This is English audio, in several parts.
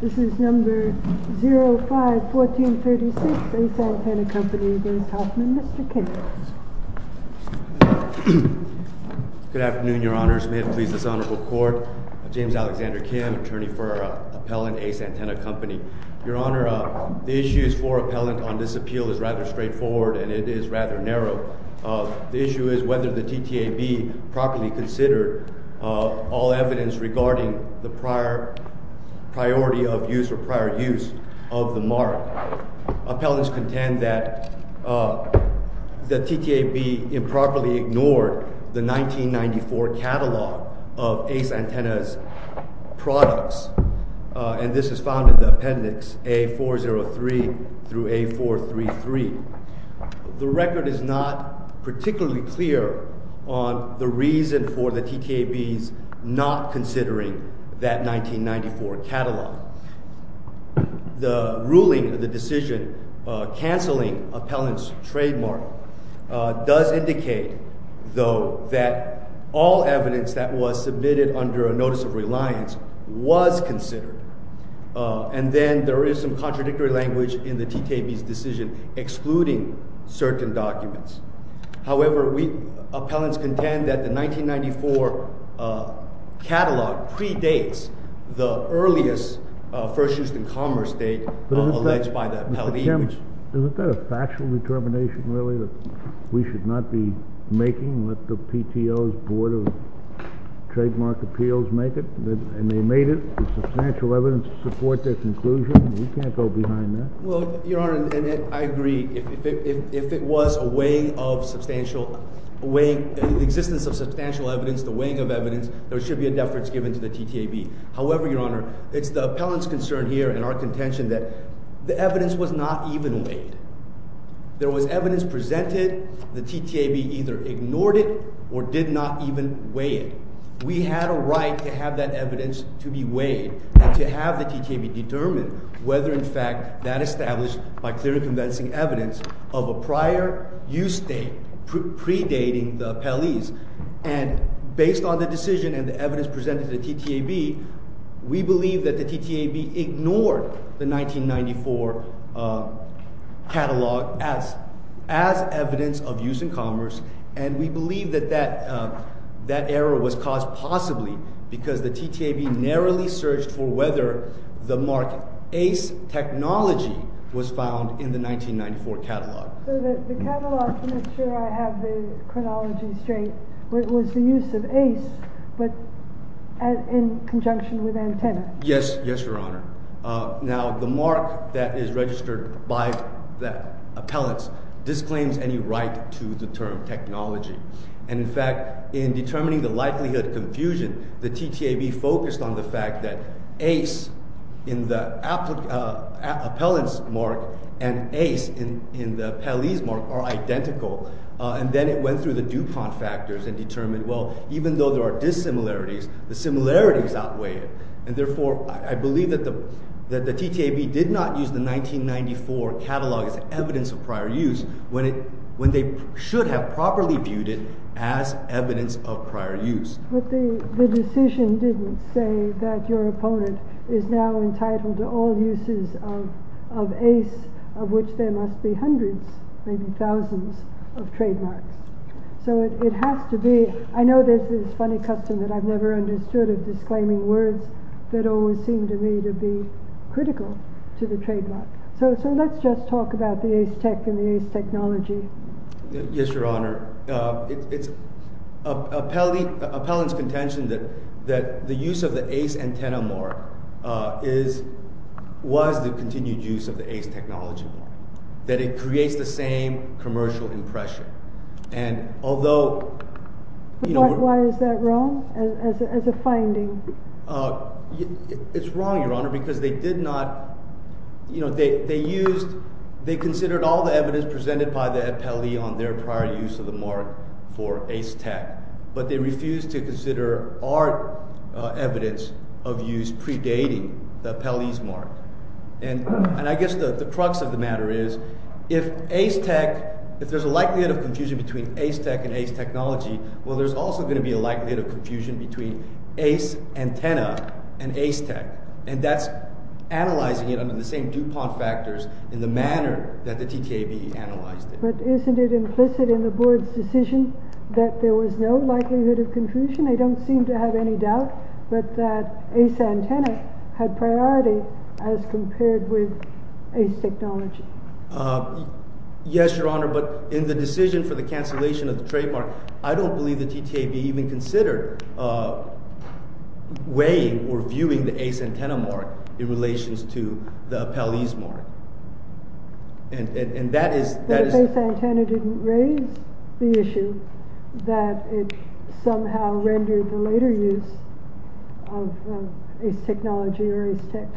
This is No. 05-1436 Ace Antenna Company v. Hoffman. Mr. Kim. Good afternoon, Your Honors. May it please this honorable court, I'm James Alexander Kim, attorney for Appellant, Ace Antenna Company. Your Honor, the issue for Appellant on this appeal is rather straightforward and it is rather narrow. The issue is whether the TTAB properly considered all evidence regarding the prior priority of use or prior use of the mark. Appellants contend that the TTAB improperly ignored the 1994 catalog of Ace Antenna's products and this is found in the appendix A403-A433. The record is not particularly clear on the reason for the TTAB's not considering that 1994 catalog. The ruling of the decision canceling Appellant's trademark does indicate though that all evidence that was submitted under a notice of reliance was considered. And then there is some contradictory language in the TTAB's decision excluding certain documents. However, appellants contend that the 1994 catalog predates the earliest First Houston Commerce date alleged by the appellate. Mr. Kim, isn't that a factual determination really that we should not be making with the PTO's Board of Trademark Appeals make it? And they made it with substantial evidence to support their conclusion. We can't go behind that. Well, Your Honor, I agree. If it was a weighing of substantial – the existence of substantial evidence, the weighing of evidence, there should be a deference given to the TTAB. However, Your Honor, it's the appellant's concern here and our contention that the evidence was not even weighed. There was evidence presented. The TTAB either ignored it or did not even weigh it. We had a right to have that evidence to be weighed and to have the TTAB determine whether in fact that established by clear and convincing evidence of a prior use date predating the appellees. And based on the decision and the evidence presented to the TTAB, we believe that the TTAB ignored the 1994 catalog as evidence of use in commerce. And we believe that that error was caused possibly because the TTAB narrowly searched for whether the mark ACE technology was found in the 1994 catalog. So the catalog, to make sure I have the chronology straight, was the use of ACE but in conjunction with antenna? Yes. Yes, Your Honor. Now, the mark that is registered by the appellants disclaims any right to the term technology. And in fact, in determining the likelihood of confusion, the TTAB focused on the fact that ACE in the appellant's mark and ACE in the appellee's mark are identical. And then it went through the DuPont factors and determined, well, even though there are dissimilarities, the similarities outweigh it. And therefore, I believe that the TTAB did not use the 1994 catalog as evidence of prior use when they should have properly viewed it as evidence of prior use. But the decision didn't say that your opponent is now entitled to all uses of ACE, of which there must be hundreds, maybe thousands of trademarks. So it has to be—I know there's this funny custom that I've never understood of disclaiming words that always seem to me to be critical to the trademark. So let's just talk about the ACE tech and the ACE technology. Yes, Your Honor. It's appellant's contention that the use of the ACE antenna mark is—was the continued use of the ACE technology mark, that it creates the same commercial impression. And although— Why is that wrong as a finding? It's wrong, Your Honor, because they did not—they used—they considered all the evidence presented by the appellee on their prior use of the mark for ACE tech. But they refused to consider our evidence of use predating the appellee's mark. And I guess the crux of the matter is, if ACE tech—if there's a likelihood of confusion between ACE tech and ACE technology, well, there's also going to be a likelihood of confusion between ACE antenna and ACE tech. And that's analyzing it under the same DuPont factors in the manner that the TTAB analyzed it. But isn't it implicit in the board's decision that there was no likelihood of confusion? I don't seem to have any doubt, but that ACE antenna had priority as compared with ACE technology. Yes, Your Honor, but in the decision for the cancellation of the trademark, I don't believe the TTAB even considered weighing or viewing the ACE antenna mark in relation to the appellee's mark. And that is— The ACE antenna didn't raise the issue that it somehow rendered the later use of ACE technology or ACE tech.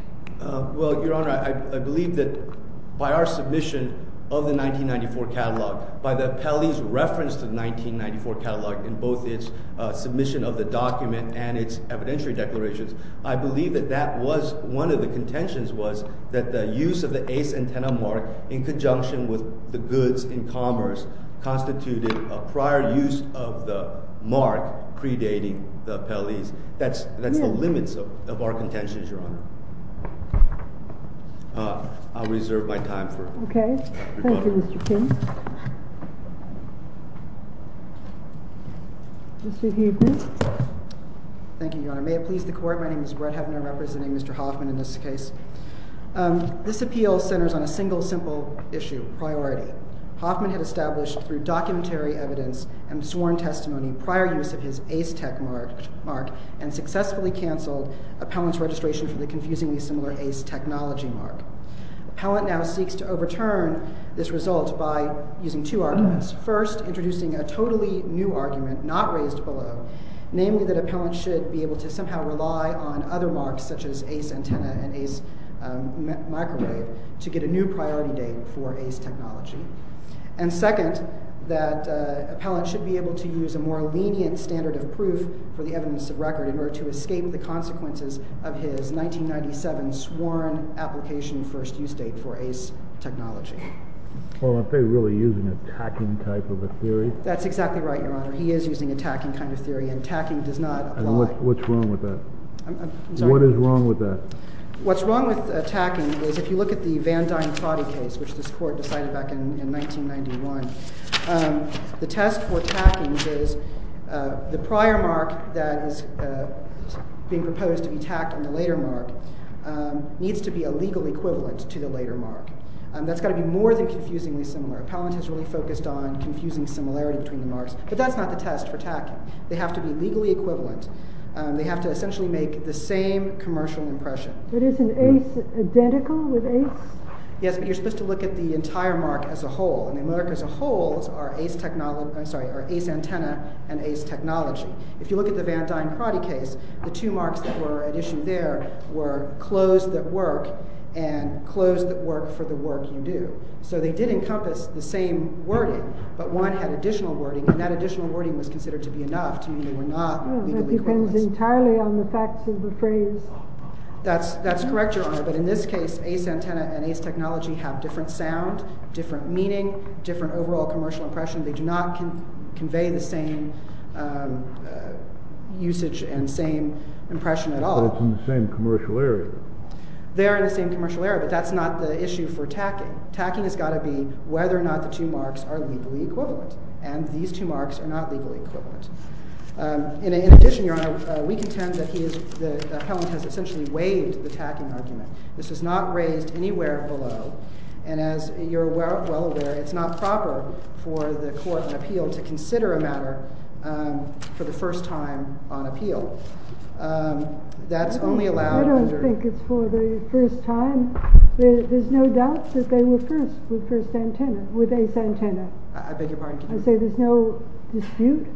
Well, Your Honor, I believe that by our submission of the 1994 catalog, by the appellee's reference to the 1994 catalog in both its submission of the document and its evidentiary declarations, I believe that that was—one of the contentions was that the use of the ACE antenna mark in conjunction with the goods in commerce constituted a prior use of the mark predating the appellee's. That's the limits of our contentions, Your Honor. I'll reserve my time for— Okay. Thank you, Mr. King. Mr. Huebner. Thank you, Your Honor. May it please the Court, my name is Brett Huebner representing Mr. Hoffman in this case. This appeal centers on a single simple issue, priority. Hoffman had established through documentary evidence and sworn testimony prior use of his ACE tech mark and successfully canceled appellant's registration for the confusingly similar ACE technology mark. Appellant now seeks to overturn this result by using two arguments. First, introducing a totally new argument not raised below, namely that appellant should be able to somehow rely on other marks such as ACE antenna and ACE microwave to get a new priority date for ACE technology. And second, that appellant should be able to use a more lenient standard of proof for the evidence of record in order to escape the consequences of his 1997 sworn application first use date for ACE technology. Well, aren't they really using a tacking type of a theory? That's exactly right, Your Honor. He is using a tacking kind of theory and tacking does not apply. And what's wrong with that? I'm sorry? What is wrong with that? What's wrong with tacking is if you look at the Van Dyne-Pratty case, which this court decided back in 1991, the test for tacking is the prior mark that is being proposed to be tacked in the later mark needs to be a legal equivalent to the later mark. That's got to be more than confusingly similar. Appellant has really focused on confusing similarity between the marks, but that's not the test for tacking. They have to be legally equivalent. They have to essentially make the same commercial impression. But isn't ACE identical with ACE? Yes, but you're supposed to look at the entire mark as a whole, and the mark as a whole are ACE antenna and ACE technology. If you look at the Van Dyne-Pratty case, the two marks that were at issue there were clothes that work and clothes that work for the work you do. So they did encompass the same wording, but one had additional wording, and that additional wording was considered to be enough to mean they were not legally equivalent. That depends entirely on the facts of the phrase. That's correct, Your Honor, but in this case, ACE antenna and ACE technology have different sound, different meaning, different overall commercial impression. They do not convey the same usage and same impression at all. But it's in the same commercial area. They are in the same commercial area, but that's not the issue for tacking. Tacking has got to be whether or not the two marks are legally equivalent, and these two marks are not legally equivalent. In addition, Your Honor, we contend that Helen has essentially waived the tacking argument. This was not raised anywhere below, and as you're well aware, it's not proper for the court in appeal to consider a matter for the first time on appeal. I don't think it's for the first time. There's no doubt that they were first with ACE antenna. I say there's no dispute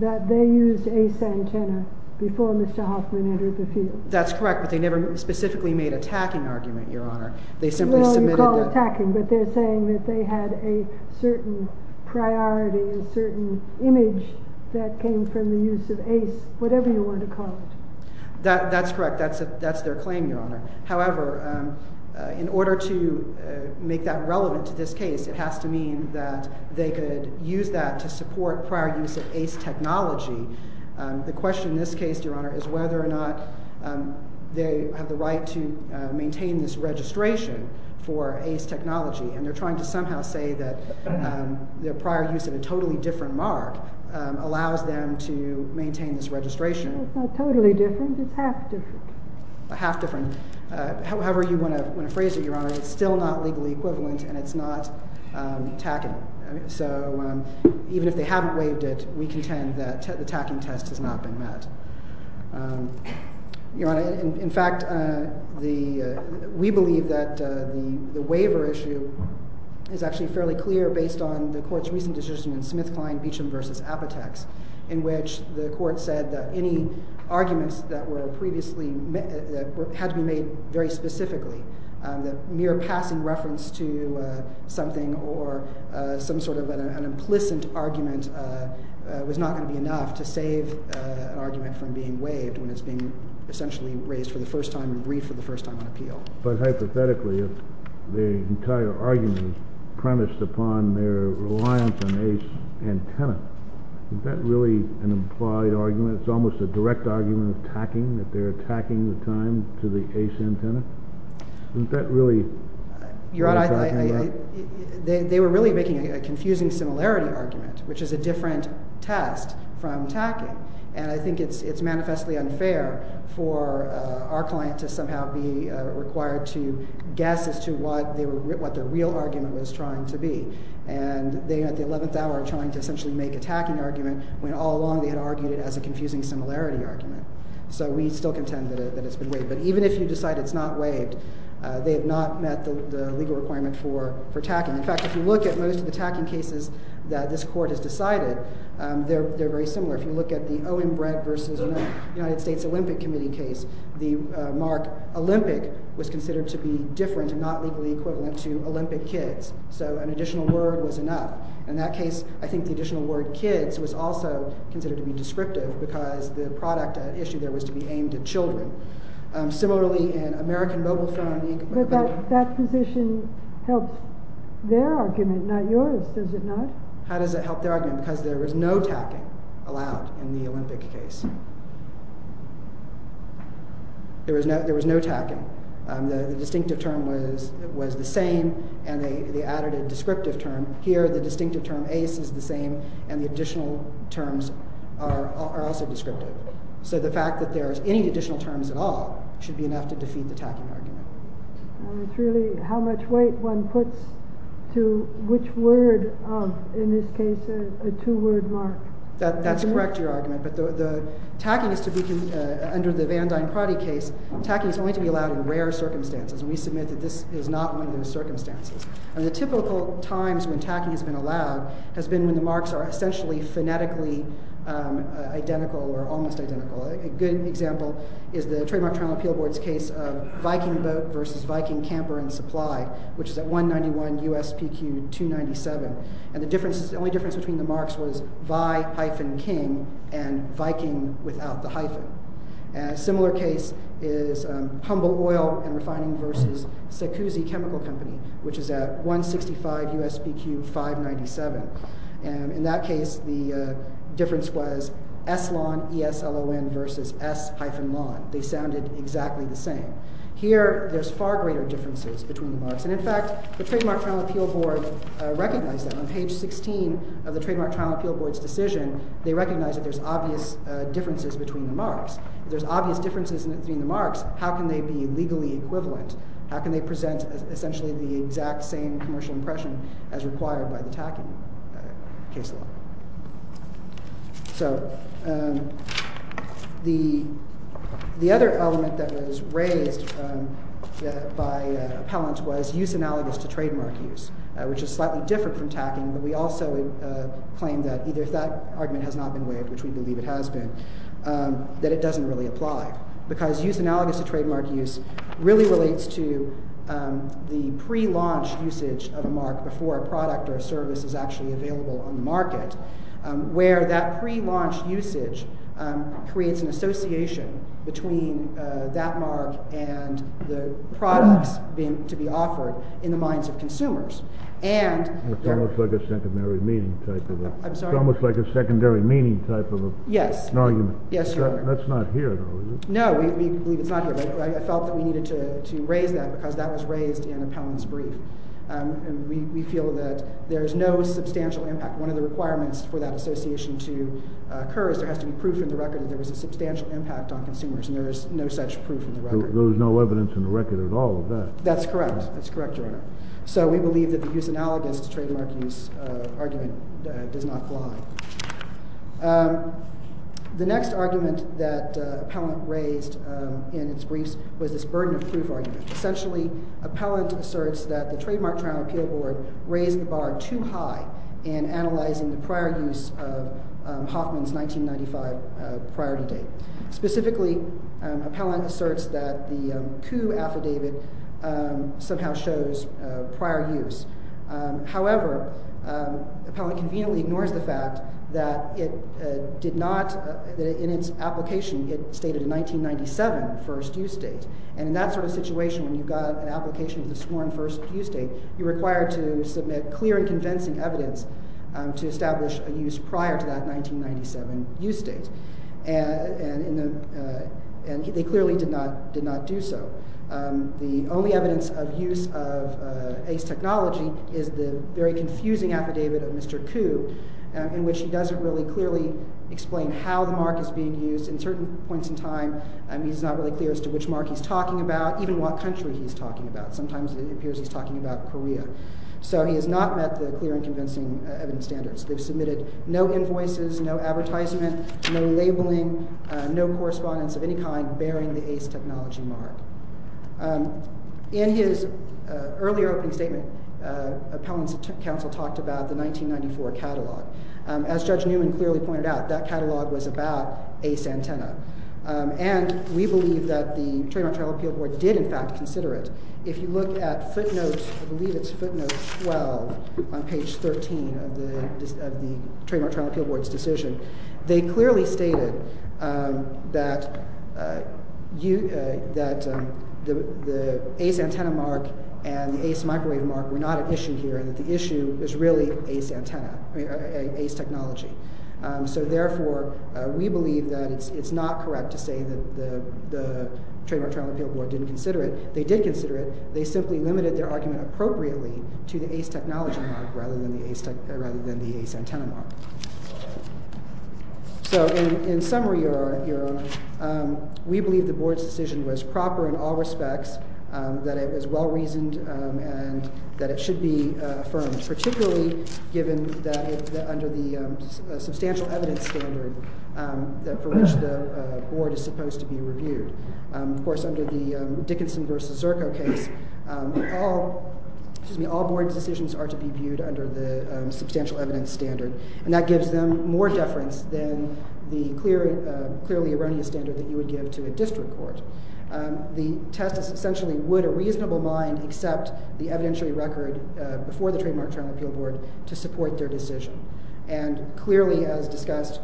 that they used ACE antenna before Mr. Hoffman entered the field. That's correct, but they never specifically made a tacking argument, Your Honor. Well, you call it tacking, but they're saying that they had a certain priority, a certain image that came from the use of ACE, whatever you want to call it. That's correct. That's their claim, Your Honor. However, in order to make that relevant to this case, it has to mean that they could use that to support prior use of ACE technology. The question in this case, Your Honor, is whether or not they have the right to maintain this registration for ACE technology, and they're trying to somehow say that the prior use of a totally different mark allows them to maintain this registration. It's not totally different. It's half different. Half different. However you want to phrase it, Your Honor, it's still not legally equivalent, and it's not tacking. So even if they haven't waived it, we contend that the tacking test has not been met. Your Honor, in fact, we believe that the waiver issue is actually fairly clear based on the court's recent decision in Smith, Klein, Beecham v. Apotex, in which the court said that any arguments that had to be made very specifically, that mere passing reference to something or some sort of an implicit argument was not going to be enough to save an argument from being waived when it's being essentially raised for the first time and briefed for the first time on appeal. But hypothetically, if the entire argument is premised upon their reliance on ACE antenna, is that really an implied argument? It's almost a direct argument of tacking, that they're tacking the time to the ACE antenna? Isn't that really— Your Honor, they were really making a confusing similarity argument, which is a different test from tacking. And I think it's manifestly unfair for our client to somehow be required to guess as to what their real argument was trying to be. And they, at the 11th hour, are trying to essentially make a tacking argument, when all along they had argued it as a confusing similarity argument. So we still contend that it's been waived. But even if you decide it's not waived, they have not met the legal requirement for tacking. In fact, if you look at most of the tacking cases that this court has decided, they're very similar. If you look at the Owen Brett v. United States Olympic Committee case, the mark Olympic was considered to be different and not legally equivalent to Olympic kids. So an additional word was enough. In that case, I think the additional word kids was also considered to be descriptive, because the product issue there was to be aimed at children. Similarly, in American Mobile Phone Inc.— But that position helped their argument, not yours, does it not? How does it help their argument? Because there was no tacking allowed in the Olympic case. There was no tacking. The distinctive term was the same, and they added a descriptive term. Here, the distinctive term ace is the same, and the additional terms are also descriptive. So the fact that there are any additional terms at all should be enough to defeat the tacking argument. It's really how much weight one puts to which word of, in this case, a two-word mark. That's correct, your argument, but the tacking is to be— Under the Van Dyne-Pratty case, tacking is only to be allowed in rare circumstances, and we submit that this is not one of those circumstances. And the typical times when tacking has been allowed has been when the marks are essentially phonetically identical or almost identical. A good example is the Trademark Journal Appeal Board's case of Viking Boat v. Viking Camper and Supply, which is at 191 USPQ 297. And the only difference between the marks was Vi-King and Viking without the hyphen. A similar case is Humboldt Oil and Refining v. Secuzzi Chemical Company, which is at 165 USPQ 597. And in that case, the difference was Slon versus S-Lon. They sounded exactly the same. Here, there's far greater differences between the marks, and in fact, the Trademark Journal Appeal Board recognized that. On page 16 of the Trademark Journal Appeal Board's decision, they recognized that there's obvious differences between the marks. If there's obvious differences between the marks, how can they be legally equivalent? How can they present essentially the exact same commercial impression as required by the tacking case law? So the other element that was raised by appellants was use analogous to trademark use, which is slightly different from tacking. But we also claim that either that argument has not been waived, which we believe it has been, that it doesn't really apply. Because use analogous to trademark use really relates to the prelaunch usage of a mark before a product or a service is actually available on the market, where that prelaunch usage creates an association between that mark and the products to be offered in the minds of consumers. It's almost like a secondary meaning type of argument. Yes. That's not here, though, is it? No, we believe it's not here. But I felt that we needed to raise that because that was raised in appellant's brief. And we feel that there's no substantial impact. One of the requirements for that association to occur is there has to be proof in the record that there was a substantial impact on consumers, and there is no such proof in the record. There was no evidence in the record at all of that. That's correct. That's correct, Your Honor. So we believe that the use analogous to trademark use argument does not apply. The next argument that appellant raised in its briefs was this burden of proof argument. Essentially, appellant asserts that the Trademark Trial and Appeal Board raised the bar too high in analyzing the prior use of Hoffman's 1995 priority date. Specifically, appellant asserts that the coup affidavit somehow shows prior use. However, appellant conveniently ignores the fact that in its application it stated a 1997 first use date. And in that sort of situation, when you've got an application with a sworn first use date, you're required to submit clear and convincing evidence to establish a use prior to that 1997 use date. And they clearly did not do so. The only evidence of use of Ace Technology is the very confusing affidavit of Mr. Coup, in which he doesn't really clearly explain how the mark is being used in certain points in time. He's not really clear as to which mark he's talking about, even what country he's talking about. Sometimes it appears he's talking about Korea. So he has not met the clear and convincing evidence standards. They've submitted no invoices, no advertisement, no labeling, no correspondence of any kind bearing the Ace Technology mark. In his earlier opening statement, appellant's counsel talked about the 1994 catalog. As Judge Newman clearly pointed out, that catalog was about Ace Antenna. And we believe that the Trademark Trial and Appeal Board did, in fact, consider it. If you look at footnotes, I believe it's footnotes 12 on page 13 of the Trademark Trial and Appeal Board's decision, they clearly stated that the Ace Antenna mark and the Ace Microwave mark were not an issue here and that the issue is really Ace Technology. So therefore, we believe that it's not correct to say that the Trademark Trial and Appeal Board didn't consider it. They did consider it. They simply limited their argument appropriately to the Ace Technology mark rather than the Ace Antenna mark. So in summary, we believe the board's decision was proper in all respects, that it was well-reasoned, and that it should be affirmed, particularly given that under the substantial evidence standard for which the board is supposed to be reviewed. Of course, under the Dickinson v. Zirko case, all board decisions are to be viewed under the substantial evidence standard. And that gives them more deference than the clearly erroneous standard that you would give to a district court. The test is essentially would a reasonable mind accept the evidentiary record before the Trademark Trial and Appeal Board to support their decision? And clearly, as discussed,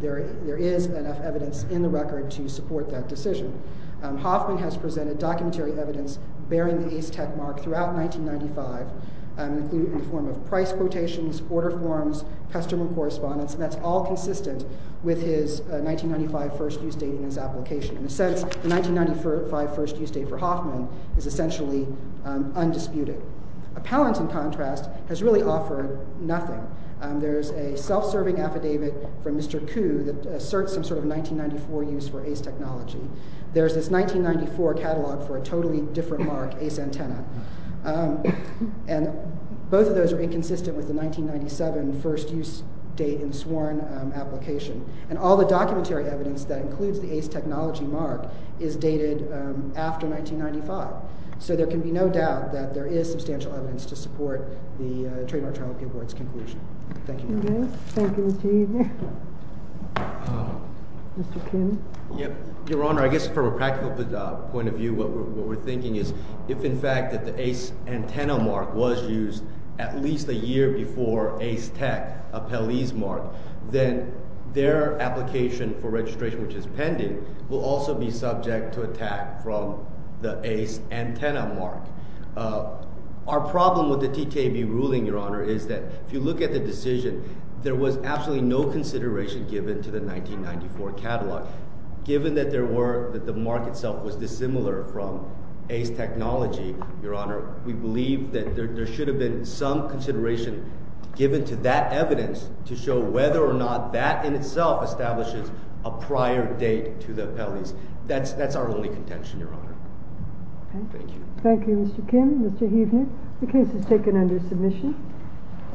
there is enough evidence in the record to support that decision. Hoffman has presented documentary evidence bearing the Ace Tech mark throughout 1995 in the form of price quotations, order forms, customer correspondence, and that's all consistent with his 1995 first use date in his application. In a sense, the 1995 first use date for Hoffman is essentially undisputed. Appellant, in contrast, has really offered nothing. There's a self-serving affidavit from Mr. Kuh that asserts some sort of 1994 use for Ace Technology. There's this 1994 catalog for a totally different mark, Ace Antenna. And both of those are inconsistent with the 1997 first use date in sworn application. And all the documentary evidence that includes the Ace Technology mark is dated after 1995. So there can be no doubt that there is substantial evidence to support the Trademark Trial and Appeal Board's conclusion. Thank you, Your Honor. Thank you, Mr. Eager. Mr. Kim? Your Honor, I guess from a practical point of view, what we're thinking is if, in fact, the Ace Antenna mark was used at least a year before Ace Tech, Appellee's mark, then their application for registration, which is pending, will also be subject to attack from the Ace Antenna mark. Our problem with the TTAB ruling, Your Honor, is that if you look at the decision, there was absolutely no consideration given to the 1994 catalog. Given that the mark itself was dissimilar from Ace Technology, Your Honor, we believe that there should have been some consideration given to that evidence to show whether or not that in itself establishes a prior date to the appellees. That's our only contention, Your Honor. Thank you. Thank you, Mr. Kim. Mr. Huebner, the case is taken under submission.